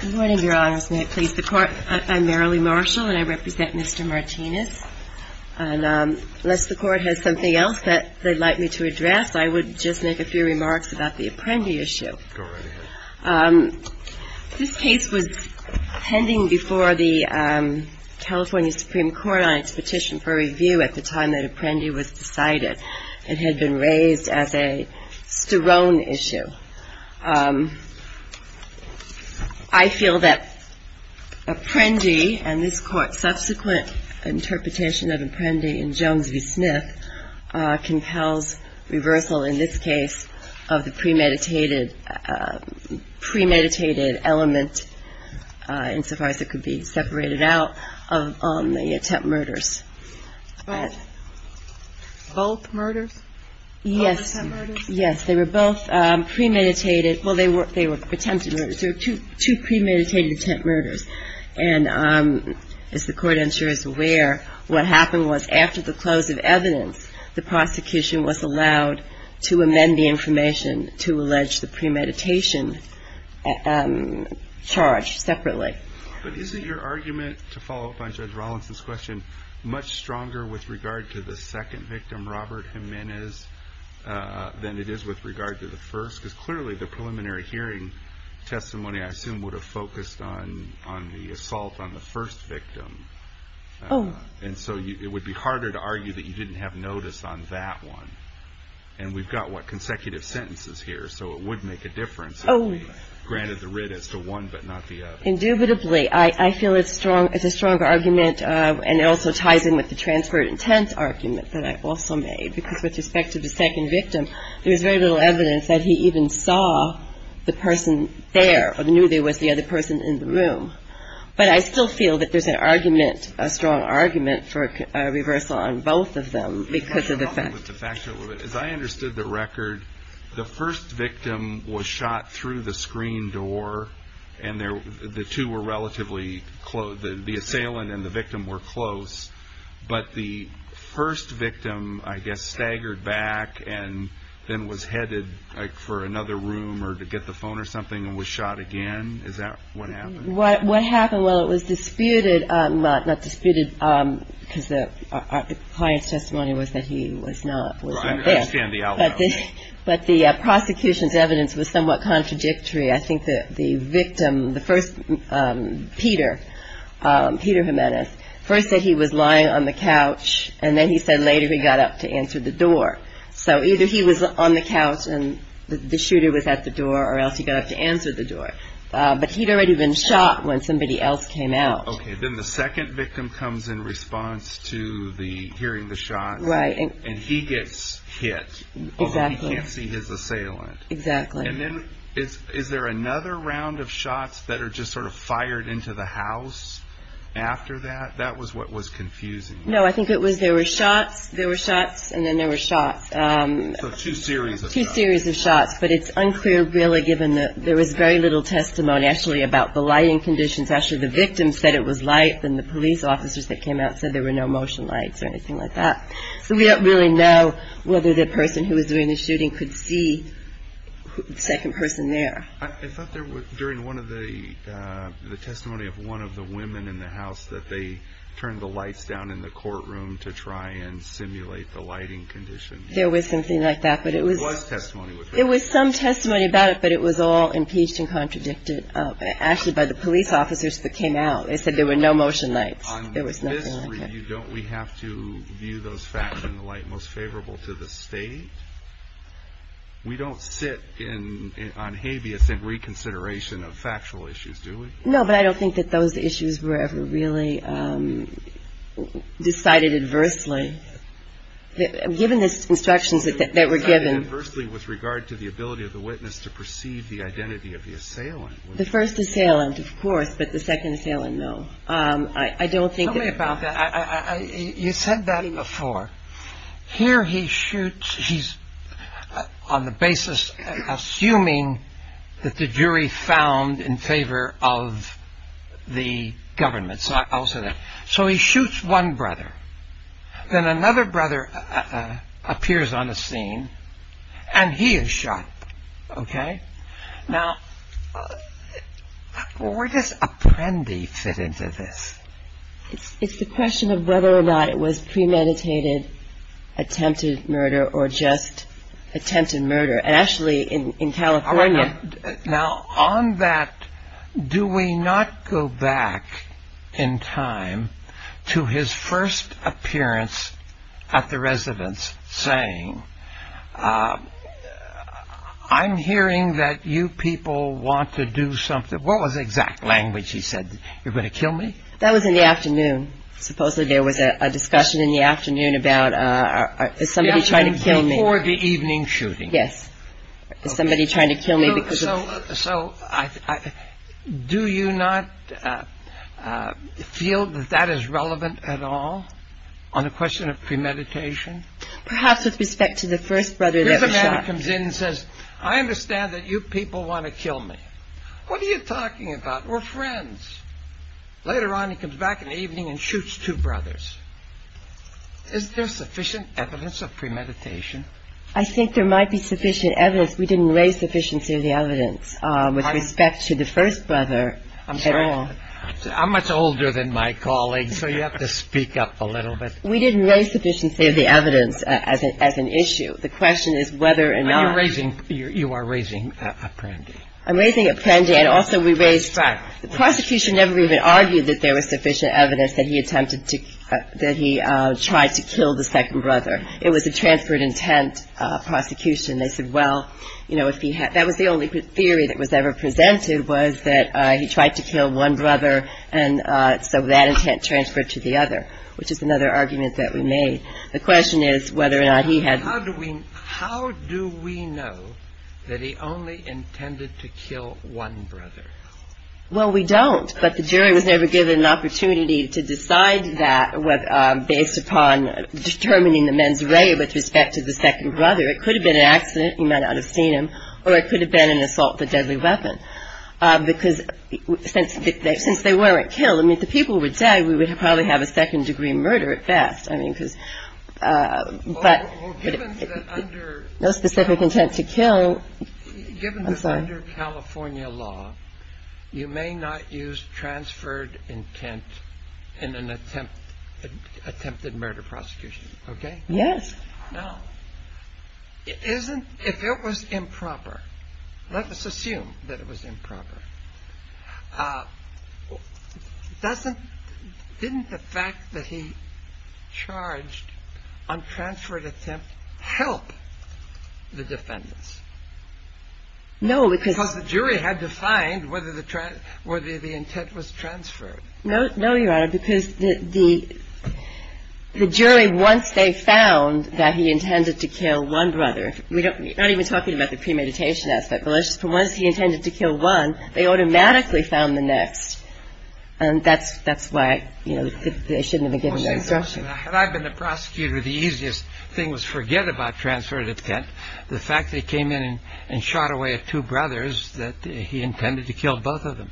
Good morning, Your Honors. May it please the Court? I'm Marilee Marshall, and I represent Mr. Martinez. And unless the Court has something else that they'd like me to address, I would just make a few remarks about the Apprendi issue. Go right ahead. This case was pending before the California Supreme Court on its petition for review at the time that Apprendi was decided. It had been raised as a Sterone issue. I feel that Apprendi and this Court's subsequent interpretation of Apprendi in Jones v. Smith compels reversal in this case of the premeditated element, insofar as it could be separated out, of the attempt murders. Both murders? Both attempt murders? Yes. They were both premeditated. Well, they were attempted murders. They were two premeditated attempt murders. And as the Court, I'm sure, is aware, what happened was after the close of evidence, the prosecution was allowed to amend the information to allege the premeditation charge separately. But isn't your argument, to follow up on Judge Rawlinson's question, much stronger with regard to the second victim, Robert Jimenez, than it is with regard to the first? Because clearly the preliminary hearing testimony, I assume, would have focused on the assault on the first victim. Oh. And so it would be harder to argue that you didn't have notice on that one. And we've got, what, consecutive sentences here, so it would make a difference if we granted the writ as to one but not the other. Indubitably, I feel it's a strong argument, and it also ties in with the transferred intent argument that I also made, because with respect to the second victim, there was very little evidence that he even saw the person there, or knew there was the other person in the room. But I still feel that there's an argument, a strong argument, for a reversal on both of them because of the fact that As I understood the record, the first victim was shot through the screen door, and the two were relatively close, the assailant and the victim were close, but the first victim, I guess, staggered back and then was headed for another room or to get the phone or something and was shot again? Is that what happened? What happened? Well, it was disputed, not disputed, because the client's testimony was that he was not there. I understand the outline. But the prosecution's evidence was somewhat contradictory. I think that the victim, the first Peter, Peter Jimenez, first said he was lying on the couch, and then he said later he got up to answer the door. So either he was on the couch and the shooter was at the door or else he got up to answer the door. But he'd already been shot when somebody else came out. Okay. Then the second victim comes in response to hearing the shots, and he gets hit. Exactly. Although he can't see his assailant. Exactly. And then is there another round of shots that are just sort of fired into the house after that? That was what was confusing. No, I think it was there were shots, there were shots, and then there were shots. So two series of shots. Two series of shots. But it's unclear really given that there was very little testimony actually about the lighting conditions. Actually, the victim said it was light, then the police officers that came out said there were no motion lights or anything like that. So we don't really know whether the person who was doing the shooting could see the second person there. I thought there was, during one of the testimony of one of the women in the house, that they turned the lights down in the courtroom to try and simulate the lighting conditions. There was something like that, but it was. There was testimony. There was some testimony about it, but it was all impeached and contradicted actually by the police officers that came out. They said there were no motion lights. There was nothing like that. On this review, don't we have to view those facts in the light most favorable to the state? We don't sit on habeas in reconsideration of factual issues, do we? No, but I don't think that those issues were ever really decided adversely. Given the instructions that were given. They were decided adversely with regard to the ability of the witness to perceive the identity of the assailant. The first assailant, of course, but the second assailant, no. Tell me about that. You said that before. Here he shoots. He's on the basis, assuming that the jury found in favor of the government. So he shoots one brother. Then another brother appears on the scene, and he is shot. Okay? Now, where does Apprendi fit into this? It's the question of whether or not it was premeditated attempted murder or just attempted murder. Actually, in California. Now, on that, do we not go back in time to his first appearance at the residence saying, I'm hearing that you people want to do something. What was the exact language he said? You're going to kill me? That was in the afternoon. Supposedly there was a discussion in the afternoon about somebody trying to kill me. Or the evening shooting. Yes. Somebody trying to kill me. So do you not feel that that is relevant at all on the question of premeditation? Perhaps with respect to the first brother that was shot. Here's a man who comes in and says, I understand that you people want to kill me. What are you talking about? We're friends. Later on, he comes back in the evening and shoots two brothers. Is there sufficient evidence of premeditation? I think there might be sufficient evidence. We didn't raise sufficiency of the evidence with respect to the first brother at all. I'm sorry. I'm much older than my colleagues, so you have to speak up a little bit. We didn't raise sufficiency of the evidence as an issue. The question is whether or not. You are raising Apprendi. I'm raising Apprendi. The prosecution never even argued that there was sufficient evidence that he attempted to, that he tried to kill the second brother. It was a transferred intent prosecution. They said, well, you know, that was the only theory that was ever presented was that he tried to kill one brother, and so that intent transferred to the other, which is another argument that we made. The question is whether or not he had. How do we know that he only intended to kill one brother? Well, we don't. But the jury was never given an opportunity to decide that based upon determining the men's array with respect to the second brother. It could have been an accident. You might not have seen him. Or it could have been an assault with a deadly weapon. Because since they weren't killed, I mean, if the people were dead, we would probably have a second-degree murder at best. I mean, because but no specific intent to kill. Given this under California law, you may not use transferred intent in an attempt attempted murder prosecution. OK. Yes. Now, isn't if it was improper. Let us assume that it was improper. Doesn't didn't the fact that he charged on transferred attempt help the defendants? No, because. Because the jury had to find whether the intent was transferred. No, Your Honor, because the jury, once they found that he intended to kill one brother, not even talking about the premeditation aspect, but once he intended to kill one, they automatically found the next. And that's that's why they shouldn't have been given that instruction. Had I been the prosecutor, the easiest thing was forget about transferred intent. The fact that he came in and shot away at two brothers, that he intended to kill both of them.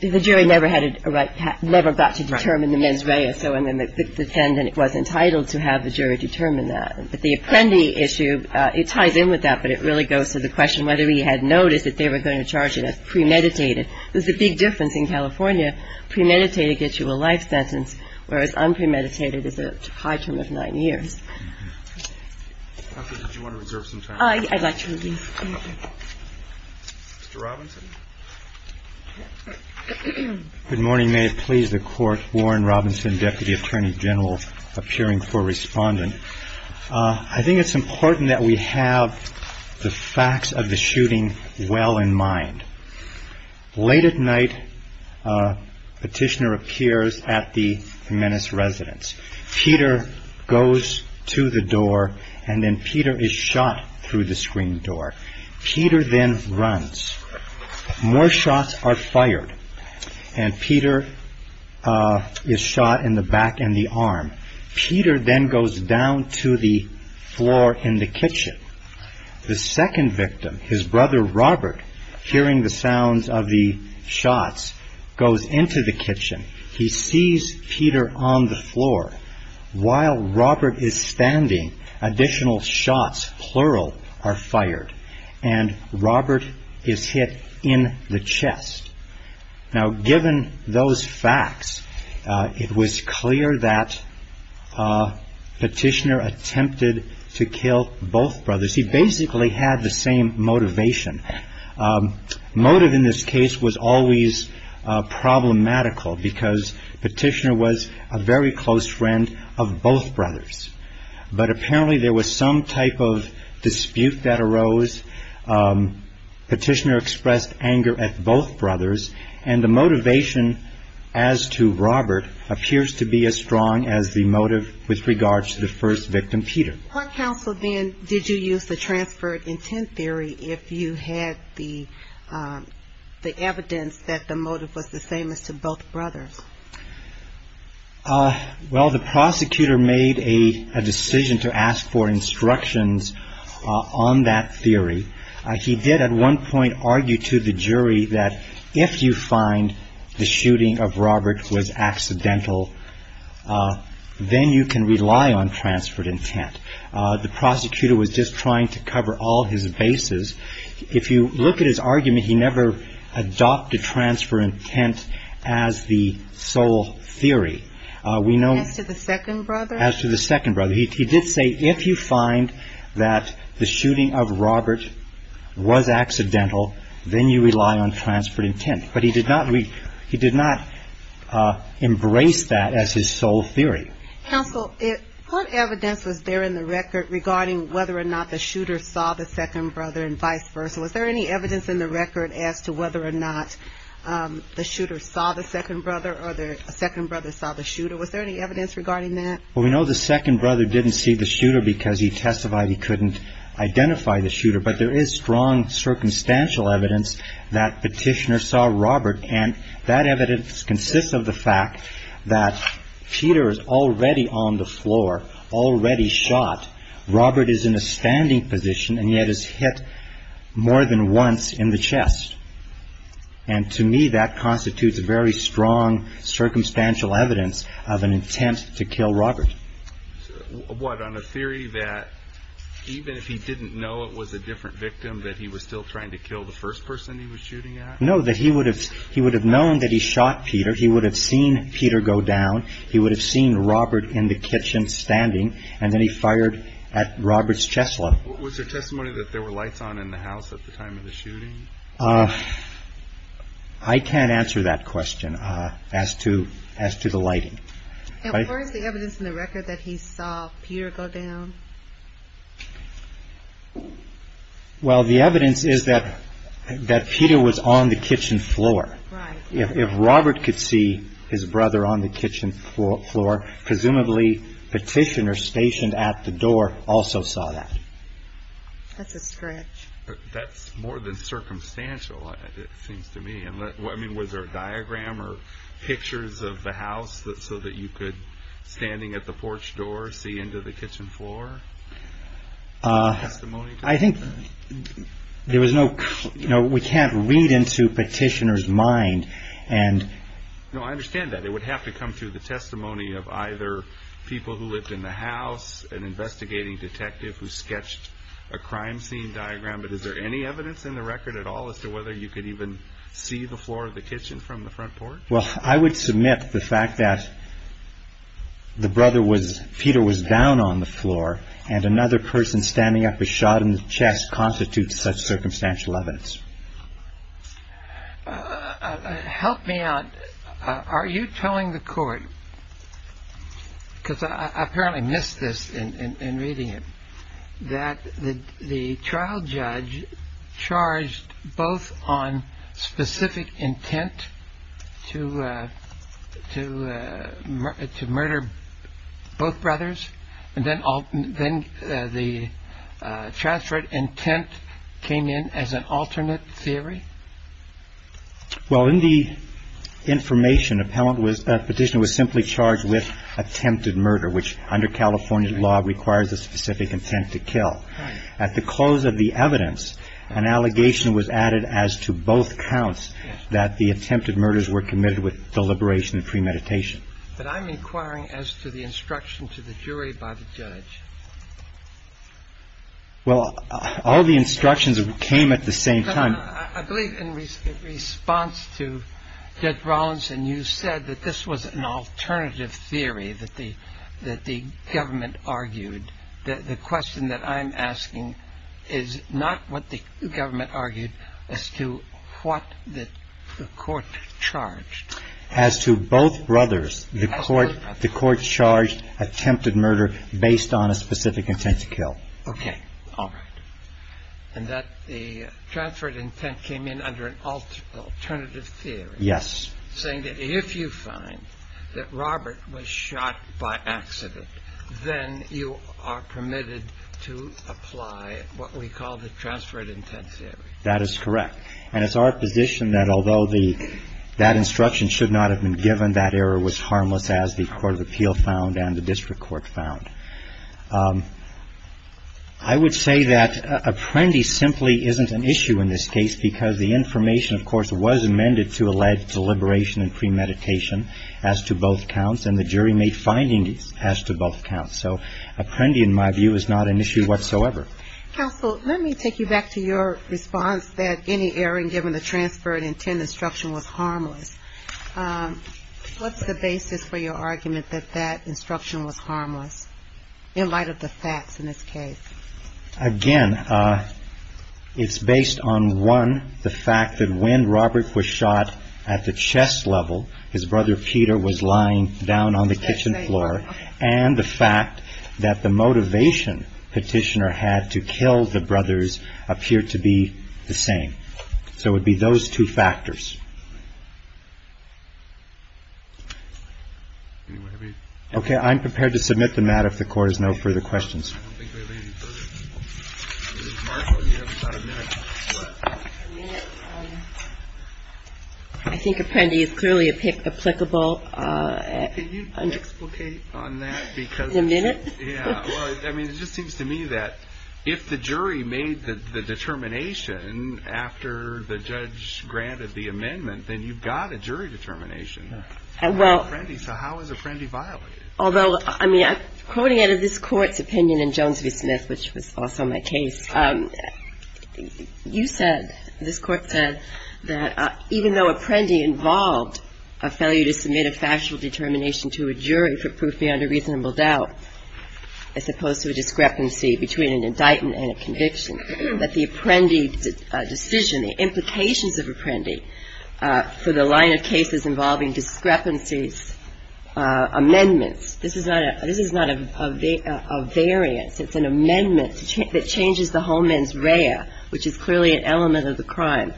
The jury never had a right, never got to determine the men's array. So the defendant was entitled to have the jury determine that. But the Apprendi issue, it ties in with that, but it really goes to the question whether he had noticed that they were going to charge it as premeditated. There's a big difference in California. Premeditated gets you a life sentence, whereas unpremeditated is a high term of nine years. I'd like to release. Mr. Robinson. Good morning. May it please the Court. Warren Robinson, Deputy Attorney General, appearing for Respondent. I think it's important that we have the facts of the shooting well in mind. Late at night, petitioner appears at the Menace residence. Peter goes to the door and then Peter is shot through the screen door. Peter then runs. More shots are fired and Peter is shot in the back and the arm. Peter then goes down to the floor in the kitchen. The second victim, his brother Robert, hearing the sounds of the shots, goes into the kitchen. He sees Peter on the floor. While Robert is standing, additional shots, plural, are fired and Robert is hit in the chest. Now, given those facts, it was clear that petitioner attempted to kill both brothers. He basically had the same motivation. Motive in this case was always problematical because petitioner was a very close friend of both brothers. But apparently there was some type of dispute that arose. Petitioner expressed anger at both brothers. And the motivation as to Robert appears to be as strong as the motive with regards to the first victim, Peter. What counsel then did you use to transfer intent theory if you had the evidence that the motive was the same as to both brothers? Well, the prosecutor made a decision to ask for instructions on that theory. He did at one point argue to the jury that if you find the shooting of Robert was accidental, then you can rely on transferred intent. The prosecutor was just trying to cover all his bases. If you look at his argument, he never adopted transfer intent as the sole theory. As to the second brother? As to the second brother. He did say if you find that the shooting of Robert was accidental, then you rely on transferred intent. But he did not embrace that as his sole theory. Counsel, what evidence was there in the record regarding whether or not the shooter saw the second brother and vice versa? Was there any evidence in the record as to whether or not the shooter saw the second brother or the second brother saw the shooter? Was there any evidence regarding that? Well, we know the second brother didn't see the shooter because he testified he couldn't identify the shooter. But there is strong circumstantial evidence that petitioner saw Robert. And that evidence consists of the fact that Peter is already on the floor, already shot. Robert is in a standing position and yet is hit more than once in the chest. And to me, that constitutes very strong circumstantial evidence of an attempt to kill Robert. What, on a theory that even if he didn't know it was a different victim, that he was still trying to kill the first person he was shooting at? No, that he would have he would have known that he shot Peter. He would have seen Peter go down. He would have seen Robert in the kitchen standing. And then he fired at Robert's chest. What was the testimony that there were lights on in the house at the time of the shooting? I can't answer that question as to as to the lighting. Where is the evidence in the record that he saw Peter go down? Well, the evidence is that that Peter was on the kitchen floor. If Robert could see his brother on the kitchen floor floor, presumably petitioner stationed at the door also saw that. That's a stretch. That's more than circumstantial, it seems to me. I mean, was there a diagram or pictures of the house so that you could standing at the porch door see into the kitchen floor? I think there was no. No, we can't read into petitioners mind. And no, I understand that it would have to come to the testimony of either people who lived in the house and investigating detective who sketched a crime scene diagram. But is there any evidence in the record at all as to whether you could even see the floor of the kitchen from the front porch? Well, I would submit the fact that. The brother was Peter was down on the floor and another person standing up a shot in the chest constitutes such circumstantial evidence. Help me out. Are you telling the court because I apparently missed this in reading it, that the trial judge charged both on specific intent to to to murder both brothers? And then then the chastity intent came in as an alternate theory. Well, in the information, appellant was a petitioner was simply charged with attempted murder, which under California law requires a specific intent to kill. At the close of the evidence, an allegation was added as to both counts that the attempted murders were committed with deliberation premeditation. But I'm inquiring as to the instruction to the jury by the judge. Well, all the instructions came at the same time, I believe, in response to Judge Rollins. And you said that this was an alternative theory that the that the government argued. The question that I'm asking is not what the government argued as to what the court charged. As to both brothers, the court, the court charged attempted murder based on a specific intent to kill. Okay. All right. And that the transferred intent came in under an alternative theory. Yes. Saying that if you find that Robert was shot by accident, then you are permitted to apply what we call the transferred intent theory. That is correct. And it's our position that although the that instruction should not have been given, that error was harmless as the court of appeal found and the district court found. I would say that Apprendi simply isn't an issue in this case because the information, of course, was amended to allege deliberation and premeditation as to both counts, and the jury made findings as to both counts. So Apprendi, in my view, is not an issue whatsoever. Counsel, let me take you back to your response that any error in giving the transferred intent instruction was harmless. What's the basis for your argument that that instruction was harmless in light of the facts in this case? Again, it's based on, one, the fact that when Robert was shot at the chest level, his brother Peter was lying down on the kitchen floor, and the fact that the motivation Petitioner had to kill the brothers appeared to be the same. So it would be those two factors. Okay. I'm prepared to submit the matter if the Court has no further questions. I don't think we have any further questions. Ms. Marshall, you have about a minute. A minute? I think Apprendi is clearly applicable. Can you explicate on that? A minute? Yeah. Well, I mean, it just seems to me that if the jury made the determination after the judge granted the amendment, then you've got a jury determination. Well. So how is Apprendi violated? Although, I mean, quoting out of this Court's opinion in Jones v. Smith, which was also my case, you said, this Court said that even though Apprendi involved a failure to submit a factual determination to a jury for proof beyond a reasonable doubt, as opposed to a discrepancy between an indictment and a conviction, that the Apprendi decision, the implications of Apprendi for the line of cases involving discrepancies, amendments. This is not a variance. It's an amendment that changes the homens rea, which is clearly an element of the crime.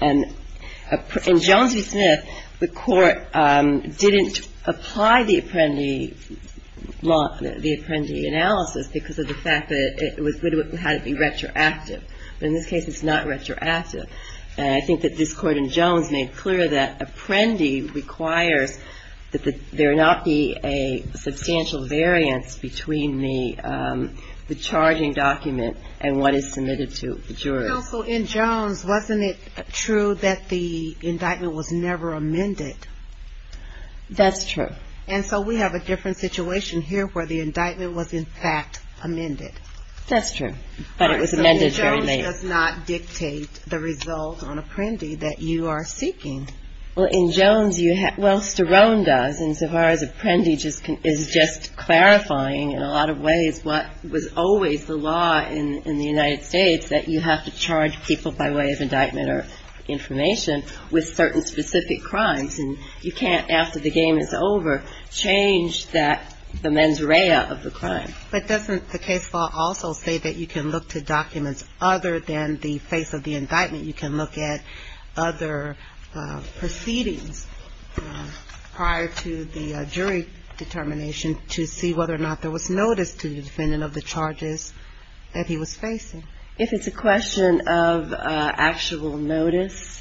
And in Jones v. Smith, the Court didn't apply the Apprendi law, the Apprendi analysis, because of the fact that it was good to have it be retroactive. But in this case, it's not retroactive. And I think that this Court in Jones made clear that Apprendi requires that there not be a substantial variance between the charging document and what is submitted to the jury. Counsel, in Jones, wasn't it true that the indictment was never amended? That's true. And so we have a different situation here where the indictment was, in fact, amended. That's true. But it was amended very late. But in Jones, it does not dictate the result on Apprendi that you are seeking. Well, in Jones, well, Sterone does. And so far as Apprendi is just clarifying in a lot of ways what was always the law in the United States, that you have to charge people by way of indictment or information with certain specific crimes. And you can't, after the game is over, change that, the mens rea of the crime. But doesn't the case law also say that you can look to documents other than the face of the indictment? You can look at other proceedings prior to the jury determination to see whether or not there was notice to the defendant of the charges that he was facing. If it's a question of actual notice,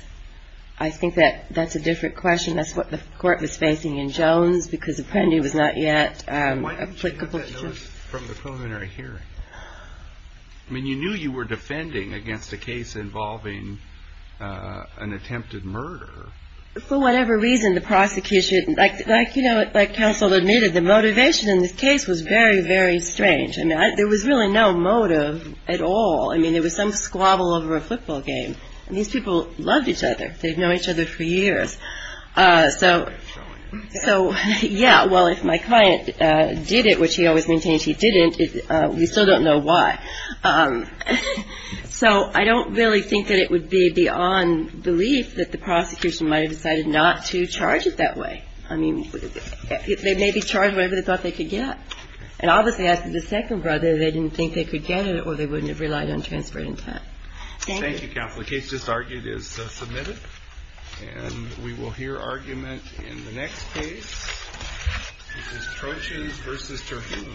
I think that that's a different question. That's what the court was facing in Jones because Apprendi was not yet applicable. Why didn't you have that notice from the preliminary hearing? I mean, you knew you were defending against a case involving an attempted murder. For whatever reason, the prosecution, like, you know, like counsel admitted, the motivation in this case was very, very strange. I mean, there was really no motive at all. I mean, it was some squabble over a football game. These people loved each other. They've known each other for years. So, yeah, well, if my client did it, which he always maintains he didn't, we still don't know why. So I don't really think that it would be beyond belief that the prosecution might have decided not to charge it that way. I mean, they may be charged whatever they thought they could get. And obviously, as the second brother, they didn't think they could get it or they wouldn't have relied on transferred intent. Thank you, counsel. The case just argued is submitted. And we will hear argument in the next case, which is Trochan versus Terhune.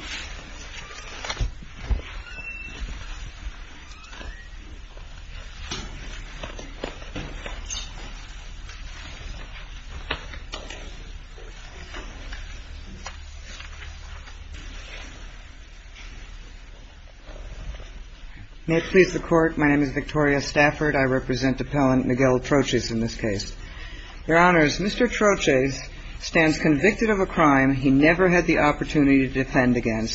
May it please the Court. My name is Victoria Stafford. I represent Appellant Miguel Troches in this case. Your Honors, Mr. Troches stands convicted of a crime he never had the opportunity to defend again.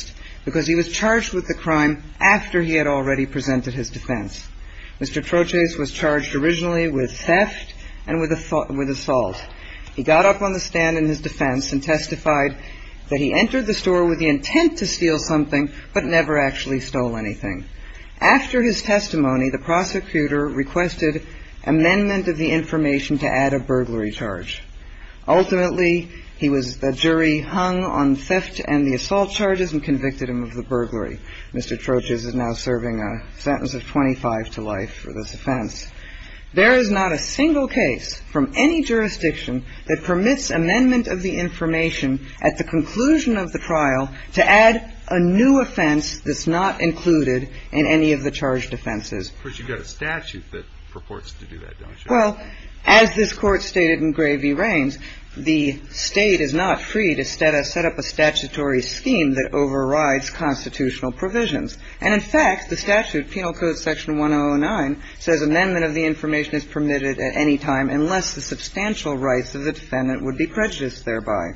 He was charged with the crime after he had already presented his defense. Mr. Troches was charged originally with theft and with assault. He got up on the stand in his defense and testified that he entered the store with the intent to steal something, but never actually stole anything. After his testimony, the prosecutor requested amendment of the information to add a burglary charge. Ultimately, he was the jury hung on theft and the assault charges and convicted him of the burglary. Mr. Troches is now serving a sentence of 25 to life for this offense. There is not a single case from any jurisdiction that permits amendment of the information at the conclusion of the trial to add a new offense that's not included in any of the charged offenses. But you've got a statute that purports to do that, don't you? Well, as this court stated in Gray v. Raines, the state is not free to set up a statutory scheme that overrides constitutional provisions. And in fact, the statute, Penal Code Section 109, says amendment of the information is permitted at any time unless the substantial rights of the defendant would be prejudiced thereby.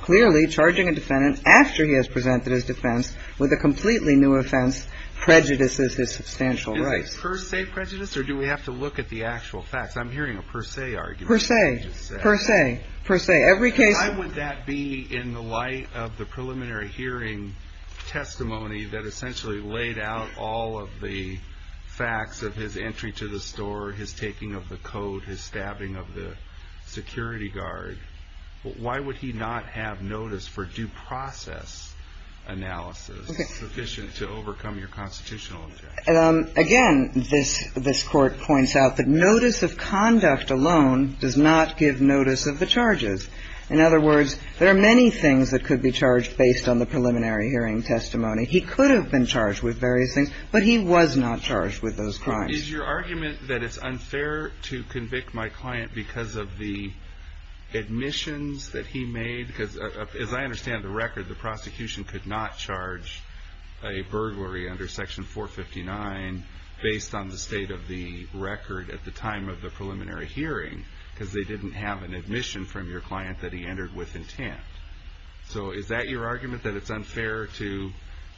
Clearly, charging a defendant after he has presented his defense with a completely new offense prejudices his substantial rights. Is it per se prejudice or do we have to look at the actual facts? I'm hearing a per se argument. Per se. Per se. Per se. Every case. Why would that be in the light of the preliminary hearing testimony that essentially laid out all of the facts of his entry to the store, his taking of the code, his stabbing of the security guard? Why would he not have notice for due process analysis sufficient to overcome your constitutional objection? Again, this court points out that notice of conduct alone does not give notice of the charges. In other words, there are many things that could be charged based on the preliminary hearing testimony. He could have been charged with various things, but he was not charged with those crimes. Is your argument that it's unfair to convict my client because of the admissions that he made? Because as I understand the record, the prosecution could not charge a burglary under section 459 based on the state of the record at the time of the preliminary hearing because they didn't have an admission from your client that he entered with intent. So is that your argument that it's unfair to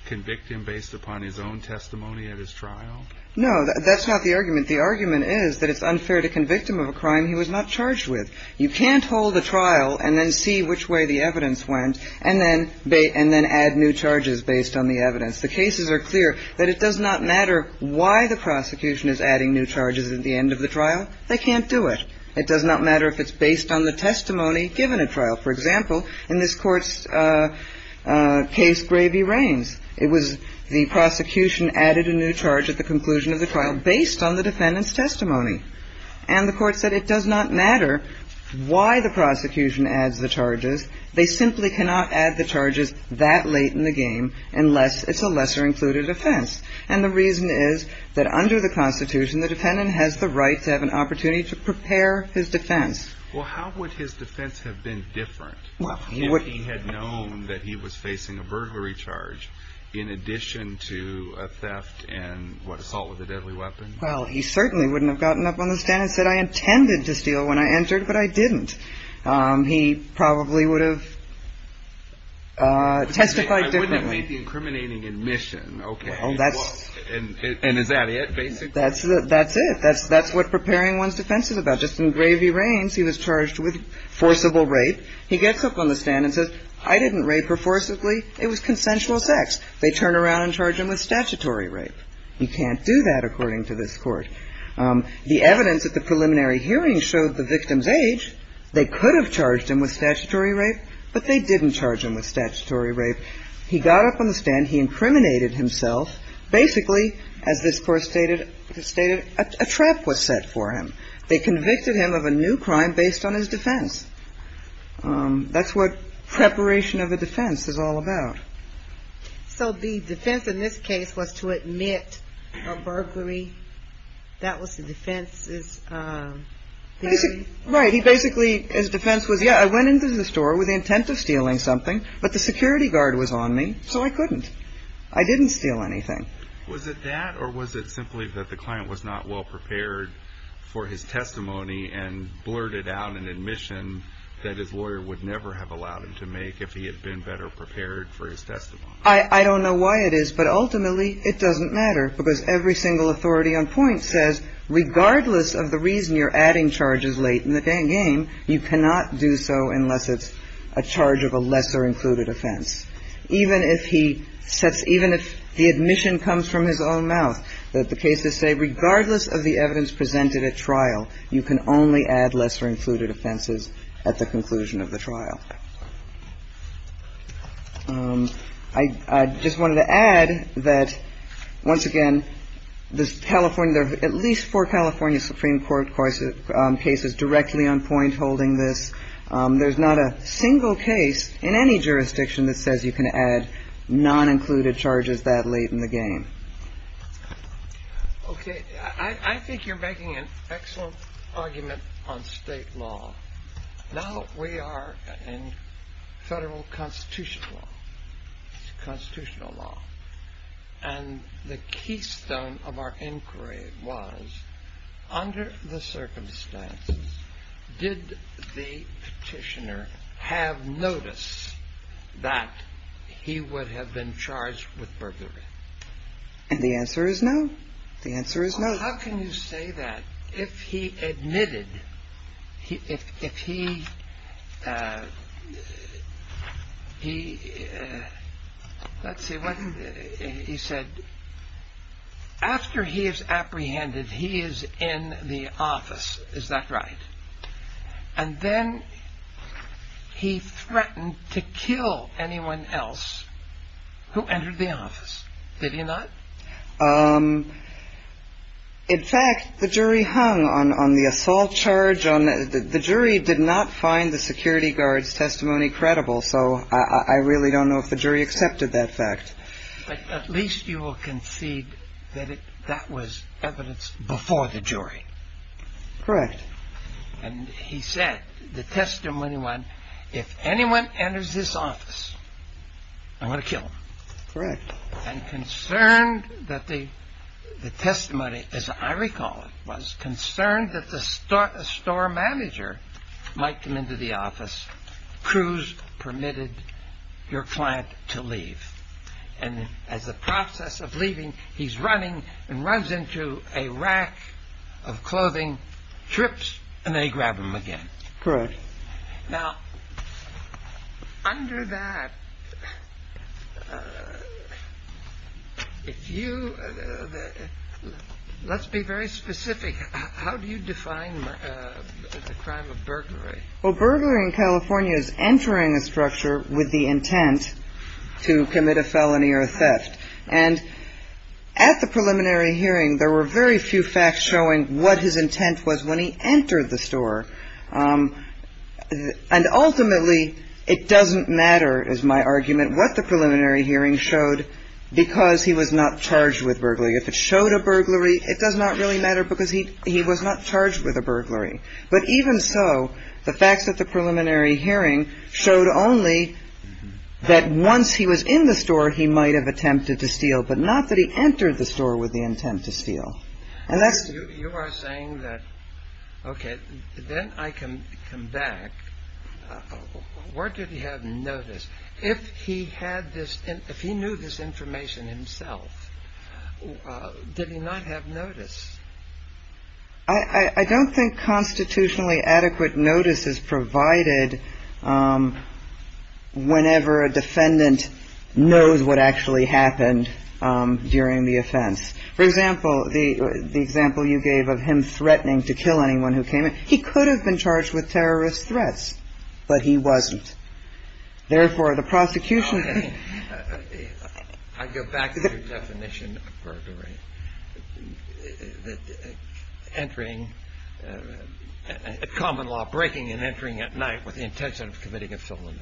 convict him based upon his own testimony at his trial? No, that's not the argument. The argument is that it's unfair to convict him of a crime he was not charged with. You can't hold a trial and then see which way the evidence went and then add new charges based on the evidence. The cases are clear that it does not matter why the prosecution is adding new charges at the end of the trial. They can't do it. It does not matter if it's based on the testimony given at trial. For example, in this Court's case, Gravy Reigns, it was the prosecution added a new charge at the conclusion of the trial based on the defendant's testimony. And the Court said it does not matter why the prosecution adds the charges. They simply cannot add the charges that late in the game unless it's a lesser included offense. And the reason is that under the Constitution, the defendant has the right to have an opportunity to prepare his defense. Well, how would his defense have been different if he had known that he was facing a burglary charge in addition to a theft and, what, assault with a deadly weapon? Well, he certainly wouldn't have gotten up on the stand and said, I intended to steal when I entered, but I didn't. He probably would have testified differently. I wouldn't have made the incriminating admission. Okay. And is that it, basically? That's it. That's what preparing one's defense is about. Just in Gravy Reigns, he was charged with forcible rape. He gets up on the stand and says, I didn't rape her forcibly. It was consensual sex. They turn around and charge him with statutory rape. He can't do that, according to this Court. The evidence at the preliminary hearing showed the victim's age. They could have charged him with statutory rape, but they didn't charge him with statutory rape. He got up on the stand. He incriminated himself. Basically, as this Court stated, a trap was set for him. They convicted him of a new crime based on his defense. That's what preparation of a defense is all about. So the defense in this case was to admit a burglary? That was the defense's theory? Right. Basically, his defense was, yeah, I went into the store with the intent of stealing something, but the security guard was on me, so I couldn't. I didn't steal anything. Was it that, or was it simply that the client was not well-prepared for his testimony and blurted out an admission that his lawyer would never have allowed him to make if he had been better prepared for his testimony? I don't know why it is, but ultimately, it doesn't matter, because every single authority on point says, regardless of the reason you're adding charges late in the game, you cannot do so unless it's a charge of a lesser-included offense. Even if the admission comes from his own mouth, the cases say regardless of the evidence presented at trial, I just wanted to add that, once again, there's California, there are at least four California Supreme Court cases directly on point holding this. There's not a single case in any jurisdiction that says you can add non-included charges that late in the game. Okay. I think you're making an excellent argument on state law. Now we are in federal constitutional law, and the keystone of our inquiry was, under the circumstances, did the petitioner have notice that he would have been charged with burglary? And the answer is no. The answer is no. How can you say that? If he admitted, if he, let's see, he said, after he is apprehended, he is in the office, is that right? And then he threatened to kill anyone else who entered the office. Did he not? In fact, the jury hung on the assault charge. The jury did not find the security guard's testimony credible, so I really don't know if the jury accepted that fact. But at least you will concede that that was evidence before the jury. Correct. And he said, the testimony went, if anyone enters this office, I'm going to kill them. Correct. And concerned that the testimony, as I recall it, was concerned that the store manager might come into the office, Cruz permitted your client to leave. And as a process of leaving, he's running and runs into a rack of clothing, trips, and they grab him again. Correct. Now, under that, if you, let's be very specific. How do you define the crime of burglary? Well, burglary in California is entering a structure with the intent to commit a felony or a theft. And at the preliminary hearing, there were very few facts showing what his intent was when he entered the store. And ultimately, it doesn't matter, is my argument, what the preliminary hearing showed because he was not charged with burglary. If it showed a burglary, it does not really matter because he was not charged with a burglary. But even so, the facts at the preliminary hearing showed only that once he was in the store, he might have attempted to steal, but not that he entered the store with the intent to steal. You are saying that, okay, then I can come back. Where did he have notice? If he knew this information himself, did he not have notice? I don't think constitutionally adequate notice is provided whenever a defendant knows what actually happened during the offense. For example, the example you gave of him threatening to kill anyone who came in, he could have been charged with terrorist threats, but he wasn't. Therefore, the prosecution can't. I go back to your definition of burglary. Entering a common law breaking and entering at night with the intention of committing a felony.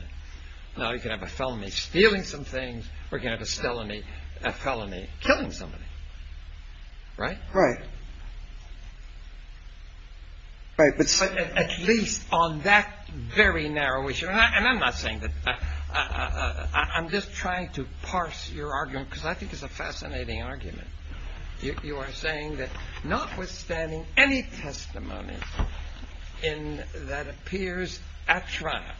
Now you can have a felony stealing some things or you can have a felony killing somebody. Right? Right. At least on that very narrow issue. And I'm not saying that. I'm just trying to parse your argument because I think it's a fascinating argument. You are saying that notwithstanding any testimony that appears at trial,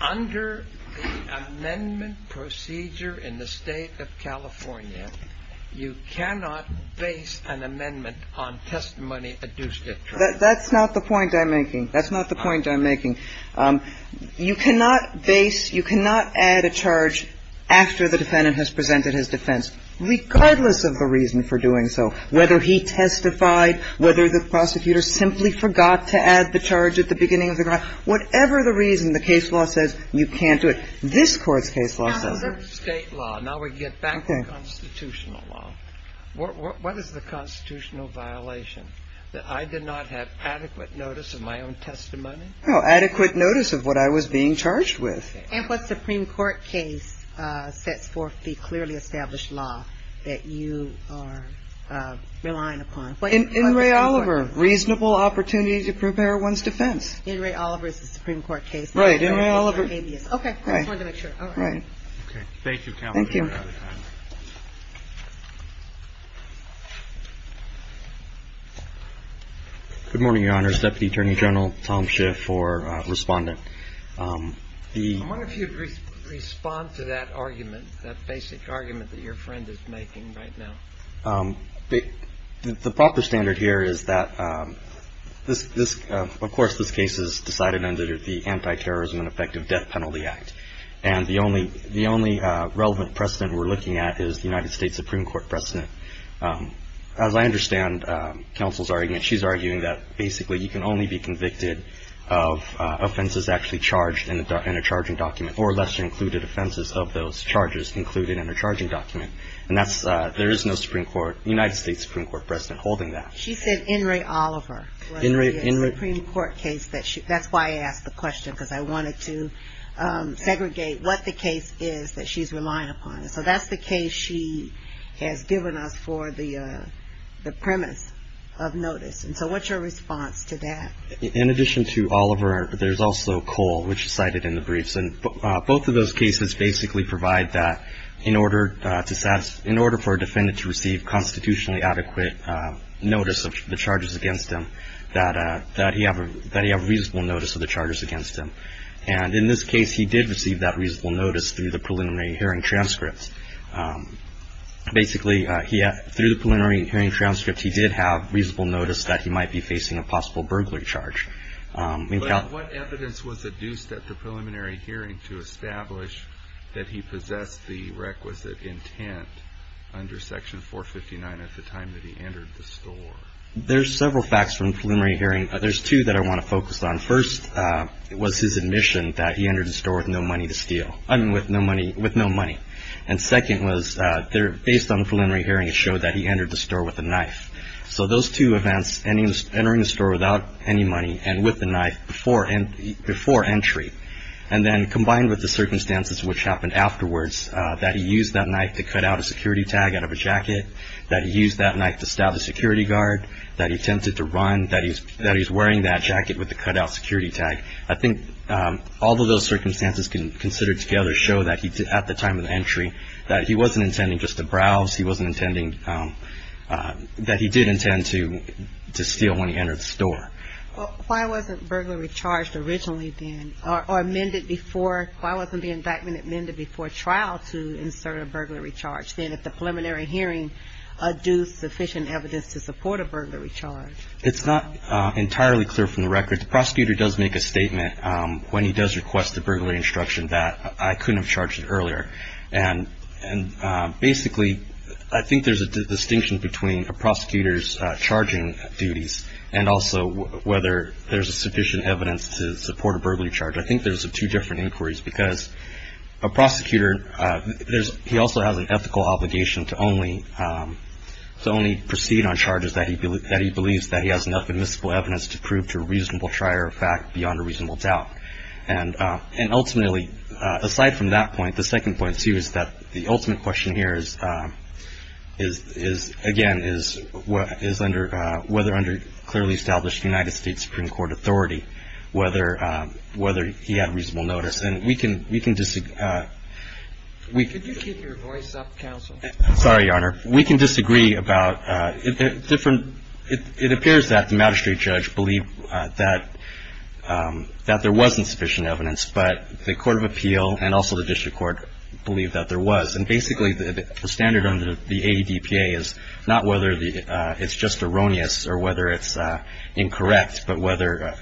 under the amendment procedure in the state of California, you cannot base an amendment on testimony adduced at trial. That's not the point I'm making. That's not the point I'm making. You cannot base, you cannot add a charge after the defendant has presented his defense, regardless of the reason for doing so, whether he testified, whether the prosecutor simply forgot to add the charge at the beginning of the trial, whatever the reason, the case law says you can't do it. This Court's case law says it. Under state law, now we get back to constitutional law, what is the constitutional violation? That I did not have adequate notice of my own testimony? No. Adequate notice of what I was being charged with. And what Supreme Court case sets forth the clearly established law that you are relying upon? In Ray Oliver. Reasonable opportunity to prepare one's defense. In Ray Oliver is the Supreme Court case. Right. In Ray Oliver. Okay. I just wanted to make sure. All right. Okay. Thank you. Thank you. Good morning, Your Honors. Deputy Attorney General Tom Schiff for Respondent. I wonder if you'd respond to that argument, that basic argument that your friend is making right now. The proper standard here is that this, of course, this case is decided under the Anti-Terrorism and Effective Death Penalty Act. And the only relevant precedent we're looking at is the United States Supreme Court precedent. As I understand Counsel's argument, she's arguing that basically you can only be convicted of offenses actually charged in a charging document, or less included offenses of those charges included in a charging document. And that's, there is no Supreme Court, United States Supreme Court precedent holding that. She said in Ray Oliver. In Ray Oliver. That's why I asked the question, because I wanted to segregate what the case is that she's relying upon. So that's the case she has given us for the premise of notice. And so what's your response to that? In addition to Oliver, there's also Cole, which is cited in the briefs. And both of those cases basically provide that in order to, in order for a defendant to receive constitutionally adequate notice of the charges against them, that he have reasonable notice of the charges against him. And in this case, he did receive that reasonable notice through the preliminary hearing transcripts. Basically, through the preliminary hearing transcripts, he did have reasonable notice that he might be facing a possible burglary charge. But what evidence was adduced at the preliminary hearing to establish that he possessed the requisite intent under Section 459 at the time that he entered the store? There's several facts from the preliminary hearing. There's two that I want to focus on. First was his admission that he entered the store with no money to steal. I mean, with no money. And second was, based on the preliminary hearing, it showed that he entered the store with a knife. So those two events, entering the store without any money and with the knife before entry, and then combined with the circumstances which happened afterwards, that he used that knife to cut out a security tag out of a jacket, that he used that knife to stab a security guard, that he attempted to run, that he's wearing that jacket with the cutout security tag. I think all of those circumstances considered together show that at the time of the entry, that he wasn't intending just to browse. He wasn't intending to steal when he entered the store. Why wasn't burglary charged originally then, or amended before? Why wasn't the indictment amended before trial to insert a burglary charge? Why was the indictment amended before trial to insert a burglary charge? Why was the indictment amended before trial to insert a burglary charge, then at the preliminary hearing, due sufficient evidence to support a burglary charge? It's not entirely clear from the record. The prosecutor does make a statement when he does request a burglary instruction that I couldn't have charged it earlier. And basically, I think there's a distinction between a prosecutor's charging duties and also whether there's sufficient evidence to support a burglary charge. I think there's two different inquiries, because a prosecutor, he also has an ethical obligation to only proceed on charges that he believes that he has enough admissible evidence to prove to a reasonable trier of fact beyond a reasonable doubt. And ultimately, aside from that point, the second point, too, is that the ultimate question here is, again, is whether under clearly established United States Supreme Court authority, whether he had reasonable notice. And we can disagree. Could you keep your voice up, counsel? Sorry, Your Honor. We can disagree about different – it appears that the magistrate judge believed that there wasn't sufficient evidence, but the court of appeal and also the district court believed that there was. And basically, the standard under the ADPA is not whether it's just erroneous or whether it's incorrect, but whether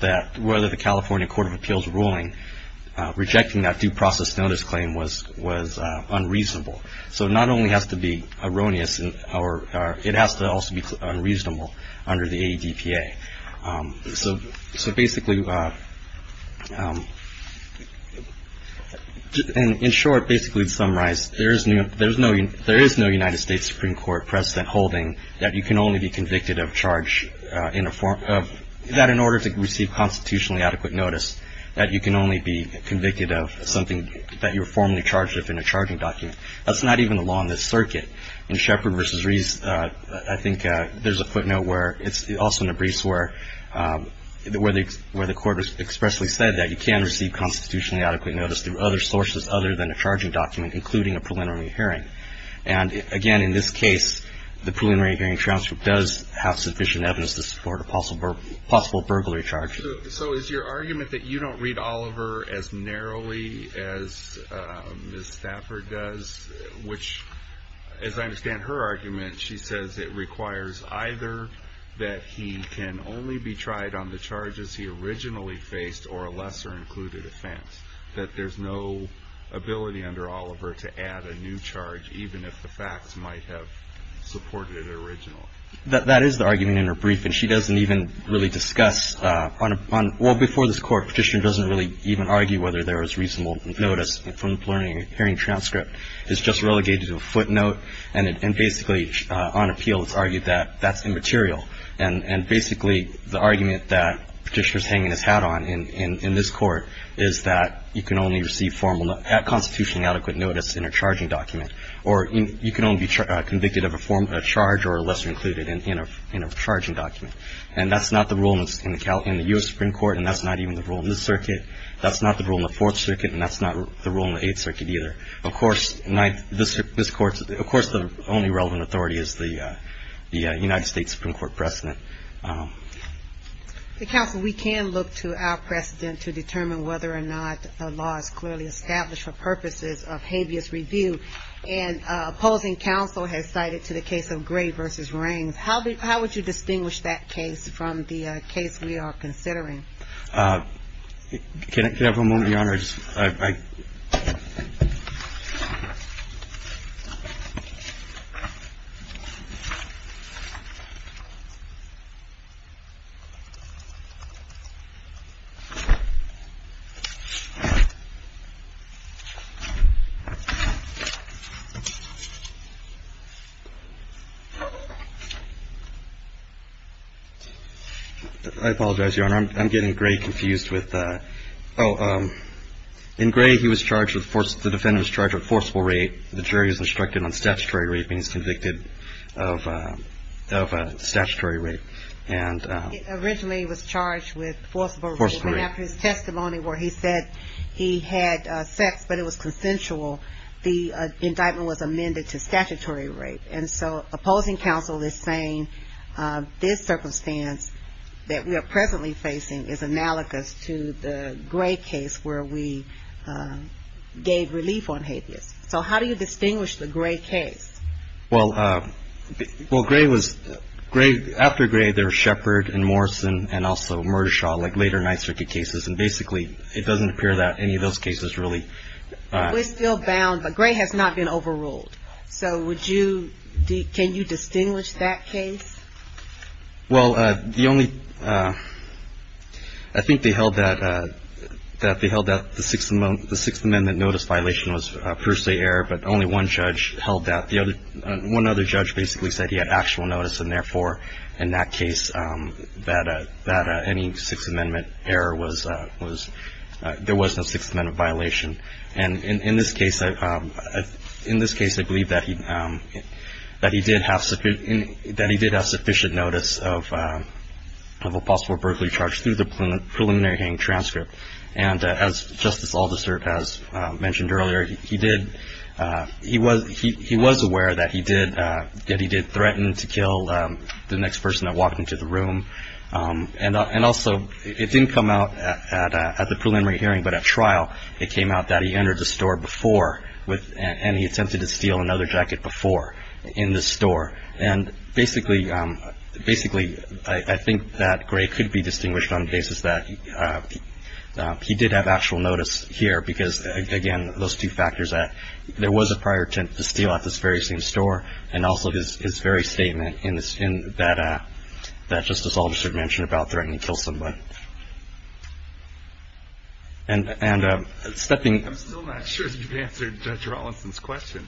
that – whether the California Court of Appeals ruling rejecting that due process notice claim was unreasonable. So it not only has to be erroneous, it has to also be unreasonable under the ADPA. So basically – in short, basically to summarize, there is no United States Supreme Court precedent holding that you can only be convicted of charge in a – that in order to receive constitutionally adequate notice, that you can only be convicted of something that you were formally charged of in a charging document. That's not even the law in this circuit. In Shepard v. Reese, I think there's a footnote where – it's also in the briefs where the – where the court expressly said that you can receive constitutionally adequate notice through other sources other than a charging document, including a preliminary hearing. And, again, in this case, the preliminary hearing transcript does have sufficient evidence to support a possible – possible burglary charge. So is your argument that you don't read Oliver as narrowly as Ms. Stafford does? Which, as I understand her argument, she says it requires either that he can only be tried on the charges he originally faced or a lesser included offense, that there's no ability under Oliver to add a new charge, even if the facts might have supported it originally. That is the argument in her brief. And she doesn't even really discuss on – well, before this Court, Petitioner doesn't really even argue whether there is reasonable notice from the preliminary hearing transcript. It's just relegated to a footnote. And basically, on appeal, it's argued that that's immaterial. And basically, the argument that Petitioner is hanging his hat on in this Court is that you can only receive formal – constitutionally adequate notice in a charging document, or you can only be convicted of a charge or a lesser included in a charging document. And that's not the rule in the U.S. Supreme Court, and that's not even the rule in this circuit. That's not the rule in the Fourth Circuit, and that's not the rule in the Eighth Circuit either. Of course, this Court's – of course, the only relevant authority is the United States Supreme Court precedent. The counsel, we can look to our precedent to determine whether or not a law is clearly established for purposes of habeas review. And opposing counsel has cited to the case of Gray v. Rains. How would you distinguish that case from the case we are considering? I apologize, Your Honor. I'm getting Gray confused with – oh, in Gray, he was charged with – the defendant was charged with forcible rape. The jury was instructed on statutory raping as convicted of statutory rape. Originally, he was charged with forcible rape. And after his testimony where he said he had sex but it was consensual, the indictment was amended to statutory rape. And so opposing counsel is saying this circumstance that we are presently facing is analogous to the Gray case where we gave relief on habeas. So how do you distinguish the Gray case? Well, Gray was – after Gray, there was Shepard and Morrison and also Murdershaw, like later Ninth Circuit cases. And basically, it doesn't appear that any of those cases really – We're still bound, but Gray has not been overruled. So would you – can you distinguish that case? Well, the only – I think they held that the Sixth Amendment notice violation was a per se error, but only one judge held that. One other judge basically said he had actual notice, and therefore, in that case, that any Sixth Amendment error was – there was no Sixth Amendment violation. And in this case, I believe that he did have sufficient notice of a possible burglary charge through the preliminary hearing transcript. And as Justice Aldister has mentioned earlier, he did – he was aware that he did threaten to kill the next person that walked into the room. And also, it didn't come out at the preliminary hearing, but at trial, it came out that he entered the store before with – and he attempted to steal another jacket before in the store. And basically – basically, I think that Gray could be distinguished on the basis that he did have actual notice here, because, again, those two factors that there was a prior attempt to steal at this very same store, and also his very statement in that – that Justice Aldister mentioned about threatening to kill someone. And stepping – I'm still not sure you've answered Judge Rawlinson's question.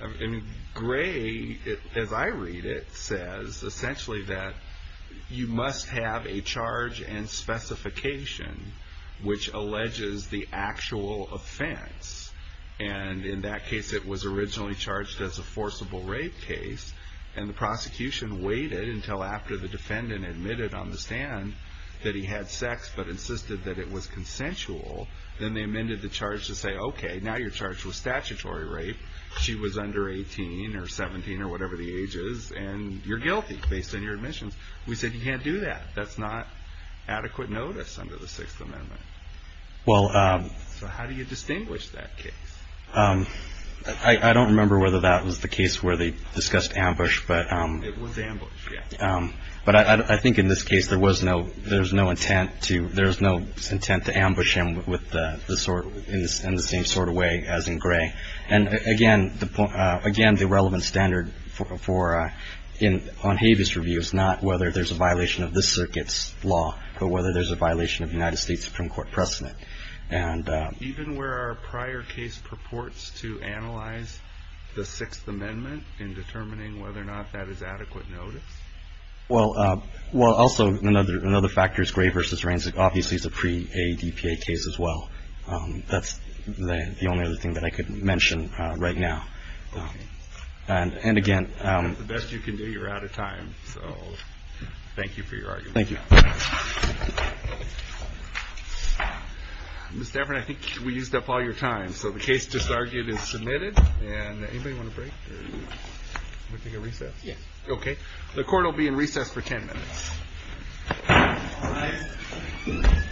I mean, Gray, as I read it, says essentially that you must have a charge and specification which alleges the actual offense. And in that case, it was originally charged as a forcible rape case, and the prosecution waited until after the defendant admitted on the stand that he had sex but insisted that it was consensual. Then they amended the charge to say, okay, now your charge was statutory rape. She was under 18 or 17 or whatever the age is, and you're guilty based on your admissions. We said you can't do that. That's not adequate notice under the Sixth Amendment. Well – So how do you distinguish that case? I don't remember whether that was the case where they discussed ambush, but – It was ambush, yes. But I think in this case there was no – there was no intent to – there was no intent to ambush him with the sword in the same sort of way as in Gray. And, again, the relevant standard for – on Habeas Review is not whether there's a violation of this circuit's law, but whether there's a violation of the United States Supreme Court precedent. And – Even where our prior case purports to analyze the Sixth Amendment in determining whether or not that is adequate notice? Well, also another factor is Gray v. Raines. Obviously it's a pre-ADPA case as well. That's the only other thing that I could mention right now. And, again – The best you can do, you're out of time. So thank you for your argument. Thank you. Ms. Stafford, I think we used up all your time. So the case just argued is submitted. And anybody want a break? Or do you want to take a recess? Yes. Okay. The Court will be in recess for 10 minutes. All rise.